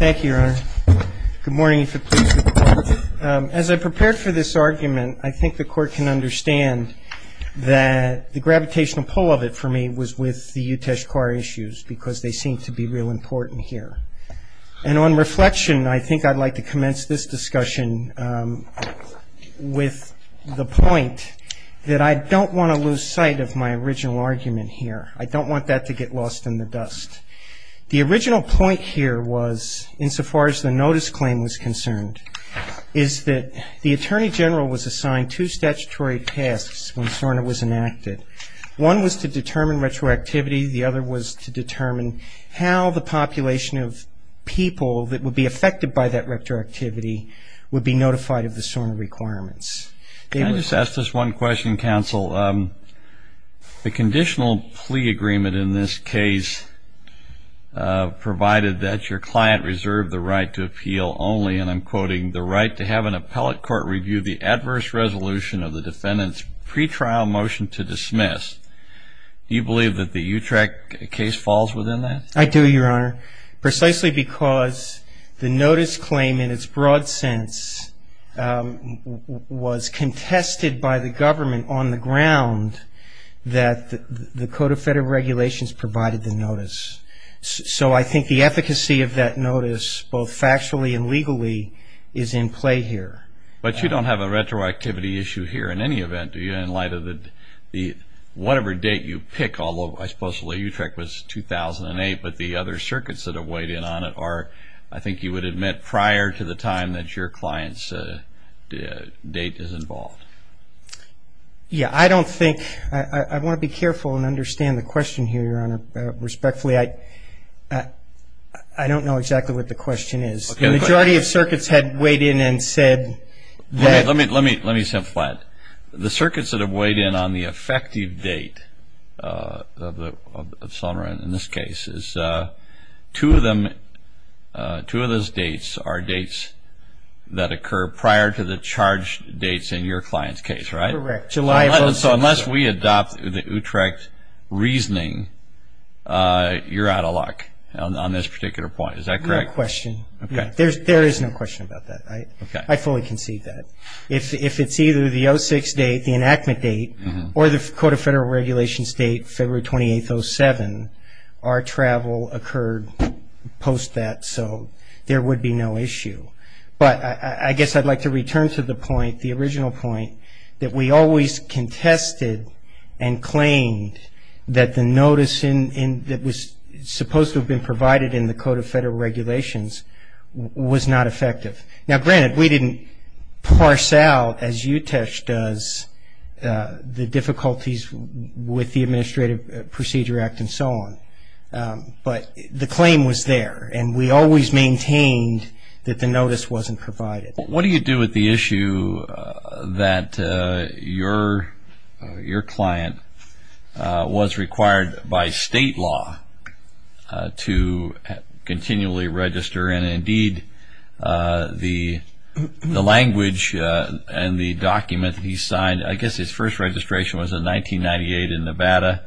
As I prepared for this argument, I think the Court can understand that the gravitational pull of it for me was with the Utesh Carr issues because they seem to be real important here. And on reflection, I think I'd like to commence this discussion with the point that I don't want to lose sight of my original argument here. I don't want that to get lost in the dust. The original point here was, insofar as the notice claim was concerned, is that the Attorney General was assigned two statutory tasks when SORNA was enacted. One was to determine retroactivity. The other was to determine how the population of people that would be affected by that retroactivity would be notified of the SORNA requirements. Can I just ask this one question, counsel? The conditional plea agreement in this case provided that your client reserved the right to appeal only, and I'm quoting, the right to have an appellate court review the adverse resolution of the defendant's pretrial motion to dismiss. Do you believe that the Utrecht case falls within that? I do, Your Honor, precisely because the notice claim, in its broad sense, was contested by the government on the ground that the Code of Federal Regulations provided the notice. So I think the efficacy of that notice, both factually and legally, is in play here. But you don't have a retroactivity issue here in any event, do you, in light of whatever date you pick, although I suppose the Utrecht was 2008, but the other circuits that have weighed in on it are, I think you would admit, prior to the time that your client's date is involved. Yeah, I don't think, I want to be careful and understand the question here, Your Honor, respectfully. I don't know exactly what the question is. The majority of circuits had weighed in and said that... Let me say it flat. The circuits that have weighed in on the effective date of Selmer, in this case, two of those dates are dates that occur prior to the charged dates in your client's case, right? Correct. July of 2006. So unless we adopt the Utrecht reasoning, you're out of luck on this particular point. Is that correct? That's my question. Okay. There is no question about that. Okay. I fully concede that. If it's either the 06 date, the enactment date, or the Code of Federal Regulations date, February 28th, 07, our travel occurred post that, so there would be no issue. But I guess I'd like to return to the point, the original point, that we always contested and claimed that the notice that was supposed to have been provided in the Code of Federal Regulations was not effective. Now, granted, we didn't parse out, as Utrecht does, the difficulties with the Administrative Procedure Act and so on. But the claim was there, and we always maintained that the notice wasn't provided. What do you do with the issue that your client was required by state law to continually register? And indeed, the language and the document that he signed, I guess his first registration was in 1998 in Nevada.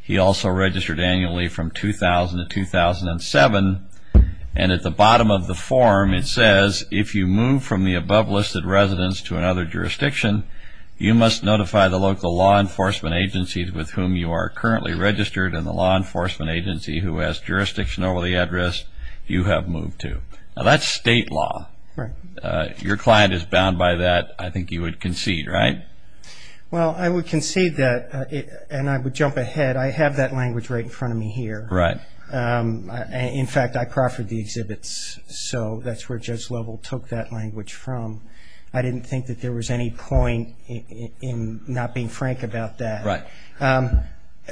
He also registered annually from 2000 to 2007. And at the bottom of the form, it says, if you move from the above listed residence to another jurisdiction, you must notify the local law enforcement agencies with whom you are currently registered and the law enforcement agency who has jurisdiction over the address you have moved to. Now, that's state law. Right. Your client is bound by that. I think you would concede, right? Well, I would concede that, and I would jump ahead. I have that language right in front of me here. Right. In fact, I proffered the exhibits, so that's where Judge Lovell took that language from. I didn't think that there was any point in not being frank about that. Right.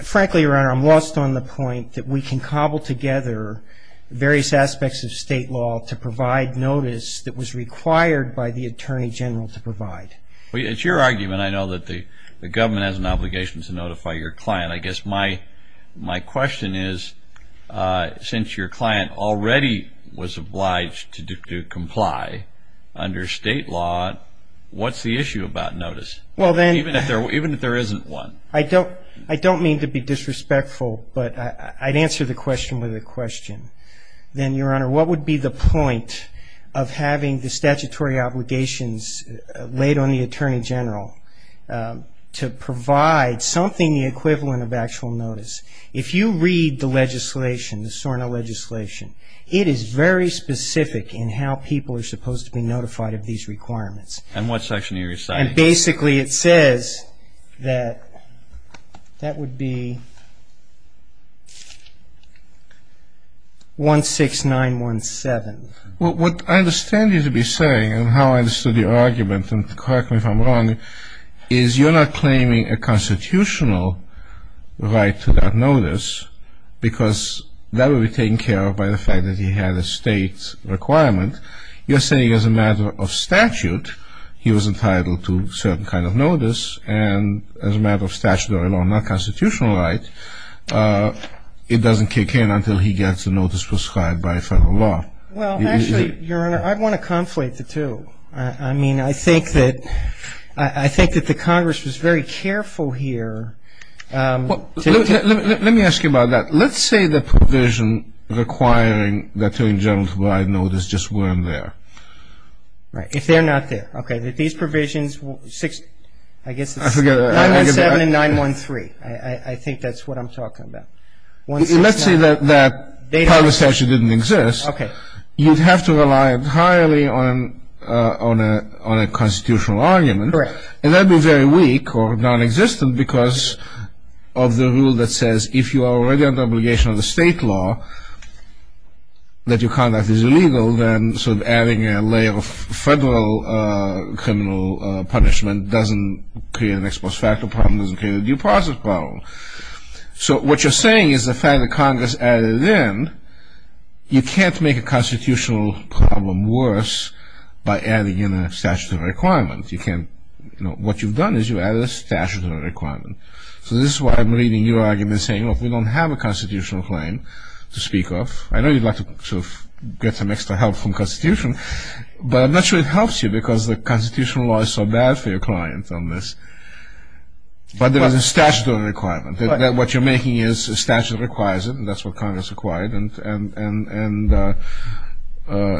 Frankly, Your Honor, I'm lost on the point that we can cobble together various aspects of state law to provide notice that was required by the Attorney General to provide. It's your argument, I know, that the government has an obligation to notify your client. I guess my question is, since your client already was obliged to comply under state law, what's the issue about notice, even if there isn't one? I don't mean to be disrespectful, but I'd answer the question with a question. Then, Your Honor, what would be the point of having the statutory obligations laid on the Attorney General to provide something the equivalent of actual notice? If you read the legislation, the SORNA legislation, it is very specific in how people are supposed to be notified of these requirements. And what section are you reciting? And basically it says that that would be 16917. What I understand you to be saying, and how I understood your argument, and correct me if I'm wrong, is you're not claiming a constitutional right to that notice because that would be taken care of by the fact that he had a state requirement. You're saying as a matter of statute, he was entitled to a certain kind of notice, and as a matter of statutory law, not constitutional right, it doesn't kick in until he gets a notice prescribed by federal law. Well, actually, Your Honor, I'd want to conflate the two. I mean, I think that the Congress was very careful here. Let me ask you about that. Let's say the provision requiring the Attorney General to provide notice just weren't there. Right. If they're not there. Okay, these provisions, I guess it's 917 and 913. I think that's what I'm talking about. Let's say that part of the statute didn't exist. Okay. You'd have to rely entirely on a constitutional argument. Correct. And that would be very weak or nonexistent because of the rule that says if you are already under obligation under state law that your conduct is illegal, then sort of adding a layer of federal criminal punishment doesn't create an ex post facto problem, doesn't create a due process problem. So what you're saying is the fact that Congress added it in, you can't make a constitutional problem worse by adding in a statutory requirement. What you've done is you've added a statutory requirement. So this is why I'm reading your argument saying, well, if we don't have a constitutional claim to speak of, But I'm not sure it helps you because the constitutional law is so bad for your clients on this. But there is a statutory requirement. What you're making is a statute that requires it, and that's what Congress acquired. And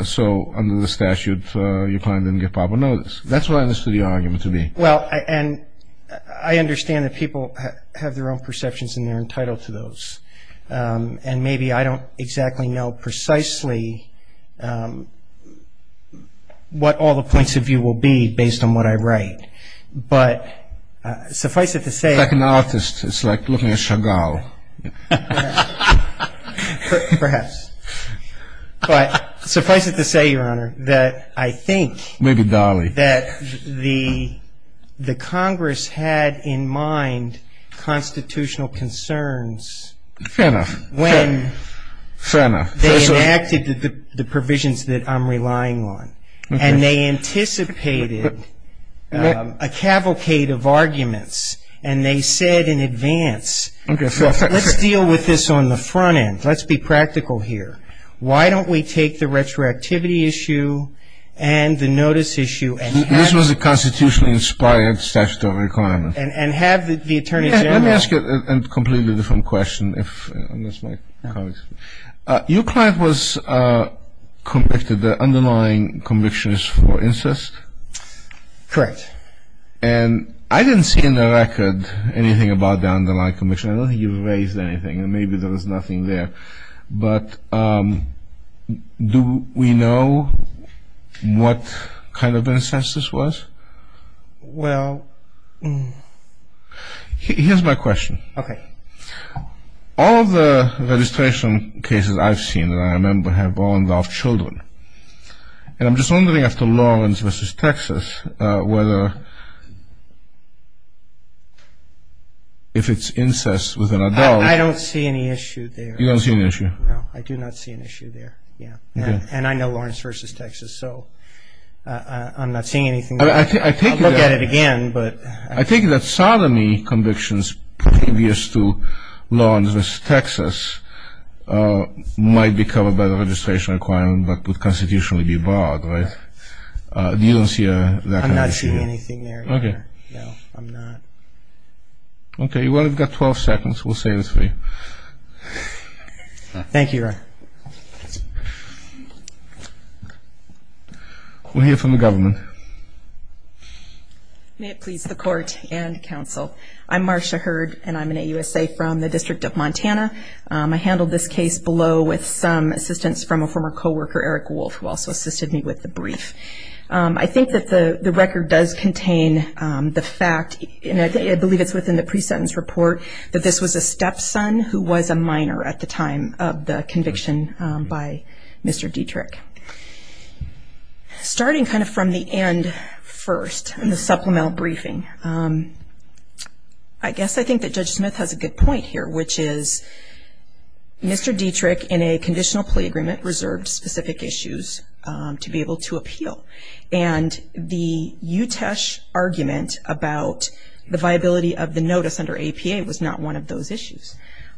so under the statute, your client didn't get proper notice. That's what I understood your argument to be. Well, and I understand that people have their own perceptions and they're entitled to those. And maybe I don't exactly know precisely what all the points of view will be based on what I write. But suffice it to say. It's like an artist. It's like looking at Chagall. Perhaps. But suffice it to say, Your Honor, that I think. Maybe Dolly. That the Congress had in mind constitutional concerns. Fair enough. When. Fair enough. They enacted the provisions that I'm relying on. Okay. And they anticipated a cavalcade of arguments. And they said in advance. Okay. Let's deal with this on the front end. Let's be practical here. Why don't we take the retroactivity issue and the notice issue. This was a constitutionally inspired statutory requirement. And have the Attorney General. Let me ask you a completely different question. Your client was convicted. The underlying conviction is for incest. Correct. And I didn't see in the record anything about the underlying conviction. I don't think you raised anything. And maybe there was nothing there. But do we know what kind of incest this was? Well. Here's my question. Okay. All the registration cases I've seen that I remember have all involved children. And I'm just wondering after Lawrence v. Texas whether if it's incest with an adult. I don't see any issue there. You don't see an issue? No. I do not see an issue there. Yeah. And I know Lawrence v. Texas. So I'm not seeing anything. I'll look at it again. I think that sodomy convictions previous to Lawrence v. Texas might be covered by the registration requirement. But would constitutionally be barred. Right? You don't see that kind of issue? I'm not seeing anything there. Okay. No. I'm not. Okay. Well, you've got 12 seconds. We'll save this for you. Thank you, Ron. We'll hear from the government. May it please the court and counsel. I'm Marcia Hurd, and I'm an AUSA from the District of Montana. I handled this case below with some assistance from a former co-worker, Eric Wolf, who also assisted me with the brief. I think that the record does contain the fact, and I believe it's within the pre-sentence report, that this was a stepson who was a minor at the time of the conviction by Mr. Dietrich. Starting kind of from the end first, in the supplemental briefing, I guess I think that Judge Smith has a good point here, which is Mr. Dietrich, in a conditional plea agreement, reserved specific issues to be able to appeal. And the Utesh argument about the viability of the notice under APA was not one of those issues.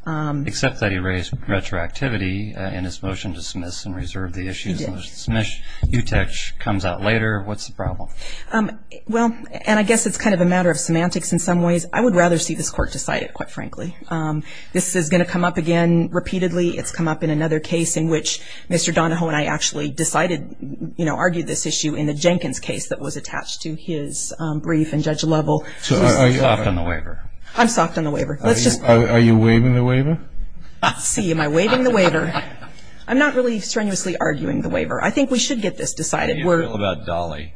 Except that he raised retroactivity in his motion to dismiss and reserve the issues. He did. Utesh comes out later. What's the problem? Well, and I guess it's kind of a matter of semantics in some ways. I would rather see this court decide it, quite frankly. This is going to come up again repeatedly. It's come up in another case in which Mr. Donahoe and I actually decided, you know, argued this issue in the Jenkins case that was attached to his brief and Judge Lovell. So are you soft on the waiver? I'm soft on the waiver. Are you waiving the waiver? Let's see. Am I waiving the waiver? I'm not really strenuously arguing the waiver. I think we should get this decided. What do you feel about Dolly?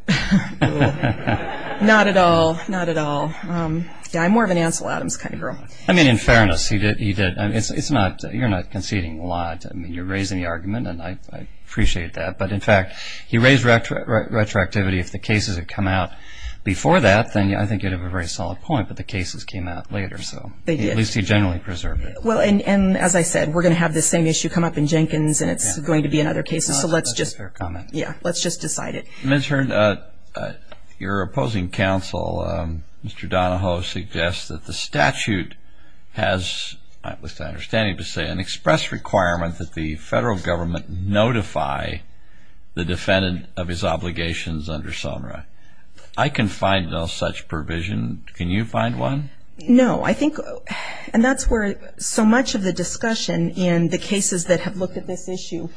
Not at all. Not at all. I'm more of an Ansel Adams kind of girl. I mean, in fairness, he did. You're not conceding a lot. I mean, you're raising the argument, and I appreciate that. But, in fact, he raised retroactivity. If the cases had come out before that, then I think you'd have a very solid point. But the cases came out later, so at least he generally preserved it. Well, and as I said, we're going to have this same issue come up in Jenkins, and it's going to be in other cases. So let's just decide it. Ms. Hearn, your opposing counsel, Mr. Donahoe, suggests that the statute has, with an understanding to say, an express requirement that the federal government notify the defendant of his obligations under SOMRA. I can find no such provision. Can you find one? No. I think that's where so much of the discussion in the cases that have looked at this issue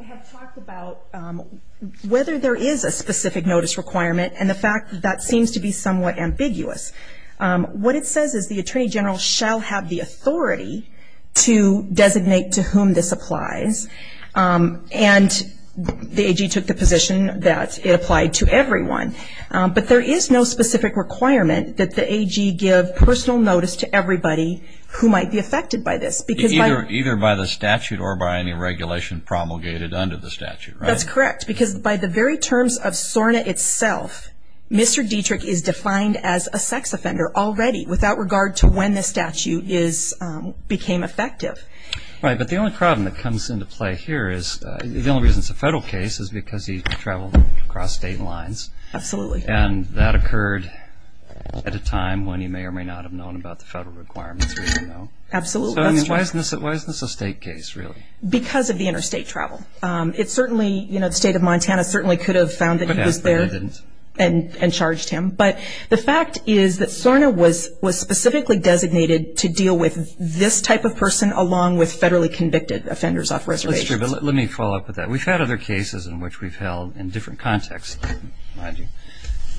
have talked about whether there is a specific notice requirement and the fact that that seems to be somewhat ambiguous. What it says is the attorney general shall have the authority to designate to whom this applies. And the AG took the position that it applied to everyone. But there is no specific requirement that the AG give personal notice to everybody who might be affected by this. Either by the statute or by any regulation promulgated under the statute. That's correct. Because by the very terms of SORNA itself, Mr. Dietrich is defined as a sex offender already, without regard to when the statute became effective. Right. But the only problem that comes into play here is, the only reason it's a federal case is because he traveled across state lines. Absolutely. And that occurred at a time when he may or may not have known about the federal requirements. Absolutely. Why isn't this a state case, really? Because of the interstate travel. It certainly, you know, the state of Montana certainly could have found that he was there and charged him. But the fact is that SORNA was specifically designated to deal with this type of person along with federally convicted offenders off reservations. Let me follow up with that. We've had other cases in which we've held in different contexts,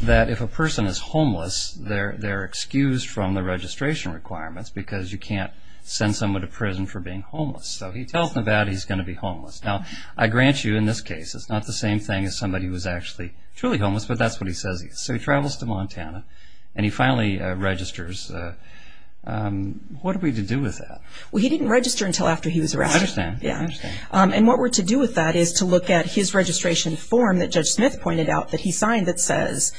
that if a person is homeless, they're excused from the registration requirements because you can't send someone to prison for being homeless. So he tells Nevada he's going to be homeless. Now, I grant you, in this case, it's not the same thing as somebody who is actually truly homeless, but that's what he says he is. So he travels to Montana and he finally registers. What are we to do with that? Well, he didn't register until after he was arrested. I understand. I understand. And what we're to do with that is to look at his registration form that Judge Smith pointed out that he signed that says,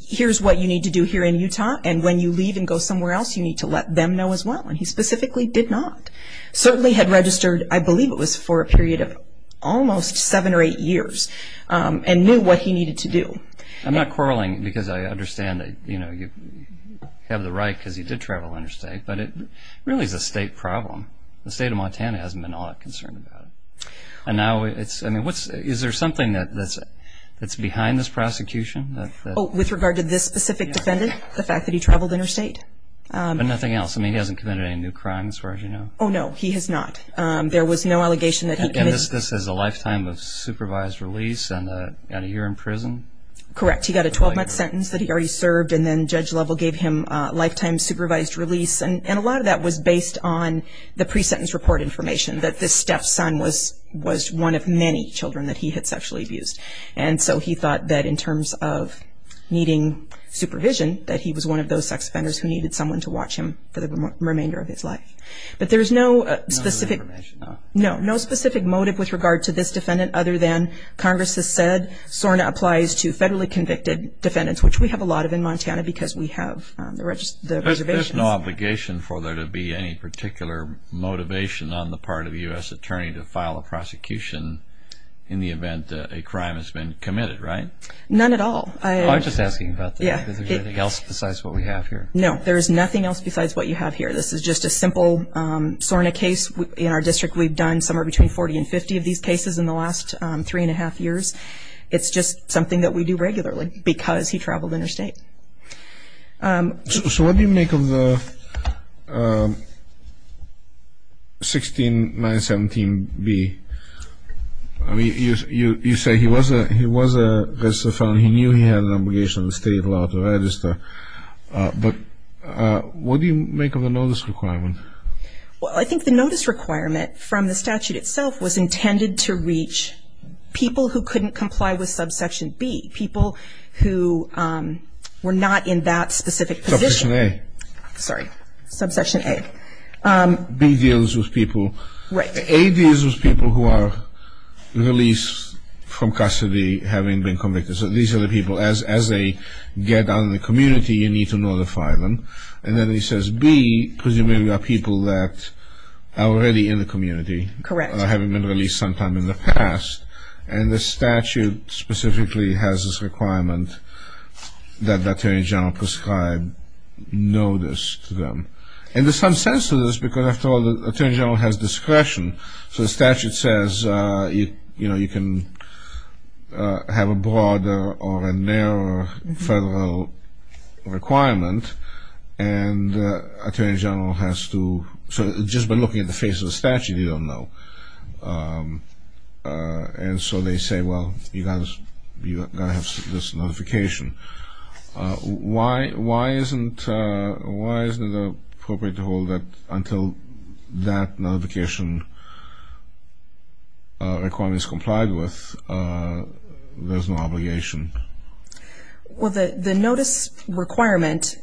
here's what you need to do here in Utah, and when you leave and go somewhere else, you need to let them know as well. And he specifically did not. He certainly had registered, I believe it was for a period of almost seven or eight years, and knew what he needed to do. I'm not quarreling because I understand that you have the right because he did travel interstate, but it really is a state problem. The state of Montana hasn't been all that concerned about it. And now it's, I mean, is there something that's behind this prosecution? Oh, with regard to this specific defendant, the fact that he traveled interstate? But nothing else. I mean, he hasn't committed any new crimes as far as you know? Oh, no, he has not. There was no allegation that he committed. And this says a lifetime of supervised release and a year in prison? Correct. He got a 12-month sentence that he already served, and then Judge Lovell gave him a lifetime supervised release. And a lot of that was based on the pre-sentence report information, that this stepson was one of many children that he had sexually abused. And so he thought that in terms of needing supervision, that he was one of those sex offenders who needed someone to watch him for the There's no specific motive with regard to this defendant other than Congress has said SORNA applies to federally convicted defendants, which we have a lot of in Montana because we have the reservations. There's no obligation for there to be any particular motivation on the part of a U.S. attorney to file a prosecution in the event that a crime has been committed, right? None at all. I'm just asking about that. Is there anything else besides what we have here? No, there is nothing else besides what you have here. This is just a simple SORNA case. In our district, we've done somewhere between 40 and 50 of these cases in the last three and a half years. It's just something that we do regularly because he traveled interstate. So what do you make of the 16917B? I mean, you say he was a felon. He knew he had an obligation of the state law to register. But what do you make of the notice requirement? Well, I think the notice requirement from the statute itself was intended to reach people who couldn't comply with subsection B, people who were not in that specific position. Subsection A. Sorry. Subsection A. B deals with people. Right. A deals with people who are released from custody having been convicted. So these are the people. As they get out in the community, you need to notify them. And then he says B, presumably are people that are already in the community. Correct. Having been released sometime in the past. And the statute specifically has this requirement that the Attorney General prescribe notice to them. And there's some sense to this because, after all, the Attorney General has discretion. So the statute says, you know, you can have a broader or a narrower federal requirement. And the Attorney General has to. So just by looking at the face of the statute, you don't know. And so they say, well, you've got to have this notification. Why isn't it appropriate to hold that until that notification requirement is complied with, there's no obligation? Well, the notice requirement,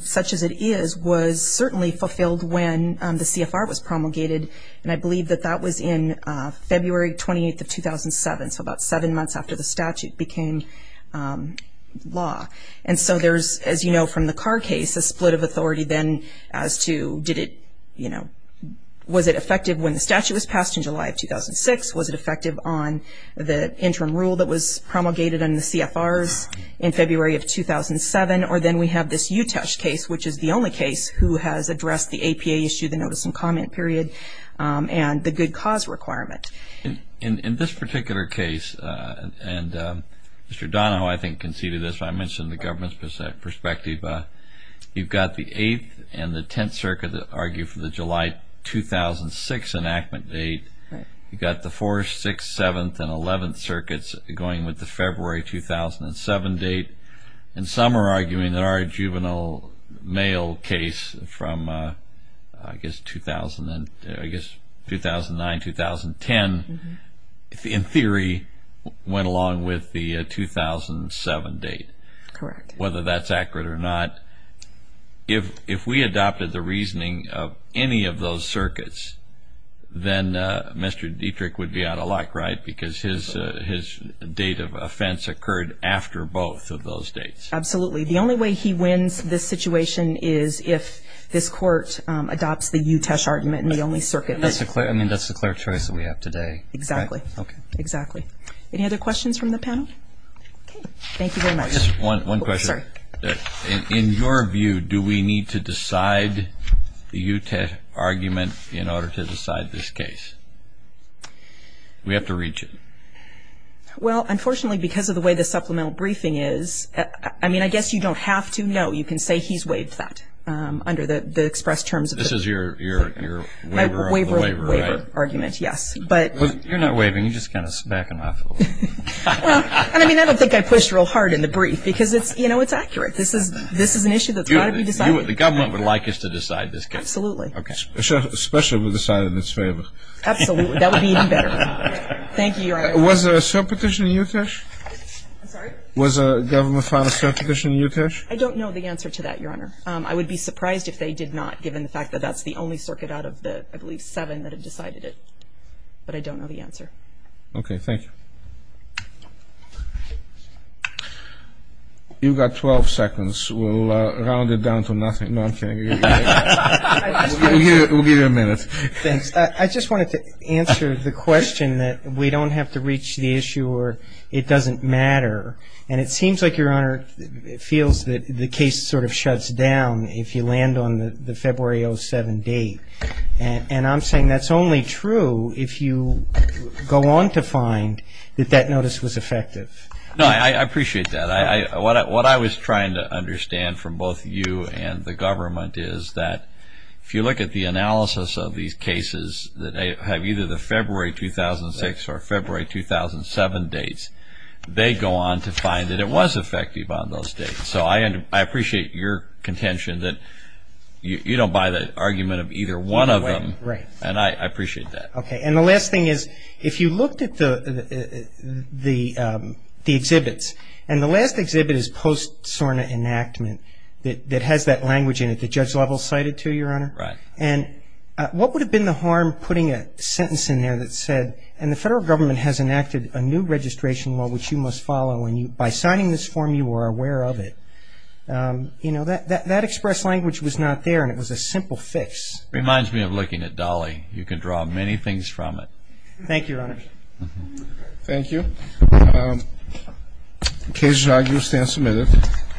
such as it is, was certainly fulfilled when the CFR was promulgated. And I believe that that was in February 28th of 2007, so about seven months after the statute became law. And so there's, as you know from the Carr case, a split of authority then as to did it, you know, was it effective when the statute was passed in July of 2006? Was it effective on the interim rule that was promulgated on the CFRs in February of 2007? Or then we have this Utesh case, which is the only case who has addressed the APA issue, the notice and comment period, and the good cause requirement. In this particular case, and Mr. Donahoe, I think, conceded this, but I mentioned the government's perspective. You've got the 8th and the 10th Circuit that argue for the July 2006 enactment date. You've got the 4th, 6th, 7th, and 11th Circuits going with the February 2007 date. And some are arguing that our juvenile mail case from, I guess, 2009, 2010, in theory, went along with the 2007 date. Correct. Whether that's accurate or not, if we adopted the reasoning of any of those circuits, then Mr. Dietrich would be out of luck, right? Because his date of offense occurred after both of those dates. Absolutely. The only way he wins this situation is if this Court adopts the Utesh argument and the only circuit. That's the clear choice that we have today. Exactly. Okay. Exactly. Any other questions from the panel? Okay. Thank you very much. Just one question. Sorry. In your view, do we need to decide the Utesh argument in order to decide this case? We have to reach it. Well, unfortunately, because of the way the supplemental briefing is, I mean, I guess you don't have to know. You can say he's waived that under the express terms. This is your waiver argument, right? My waiver argument, yes. You're not waiving. You're just kind of smacking my foot. Well, I mean, I don't think I pushed real hard in the brief because, you know, it's accurate. This is an issue that's got to be decided. The government would like us to decide this case. Absolutely. Okay. Especially if we decide it in its favor. Absolutely. That would be even better. Thank you, Your Honor. Was there a cert petition in Utesh? I'm sorry? Was a government filed a cert petition in Utesh? I don't know the answer to that, Your Honor. I would be surprised if they did not, given the fact that that's the only circuit out of the, I believe, seven that had decided it. But I don't know the answer. Okay. Thank you. You've got 12 seconds. We'll round it down to nothing. No, I'm kidding. We'll give you a minute. Thanks. I just wanted to answer the question that we don't have to reach the issue or it doesn't matter. And it seems like, Your Honor, it feels that the case sort of shuts down if you land on the February 07 date. And I'm saying that's only true if you go on to find that that notice was effective. No, I appreciate that. What I was trying to understand from both you and the government is that if you look at the analysis of these cases that have either the February 2006 or February 2007 dates, they go on to find that it was effective on those dates. So I appreciate your contention that you don't buy the argument of either one of them. Right. And I appreciate that. Okay. And the last thing is if you looked at the exhibits, and the last exhibit is post-SORNA enactment that has that language in it that Judge Lovell cited to you, Your Honor. Right. And what would have been the harm putting a sentence in there that said, and the federal government has enacted a new registration law which you must follow and by signing this form you are aware of it. You know, that express language was not there and it was a simple fix. It reminds me of looking at Dolly. You can draw many things from it. Thank you, Your Honor. Thank you. The case is now in your stand submitted.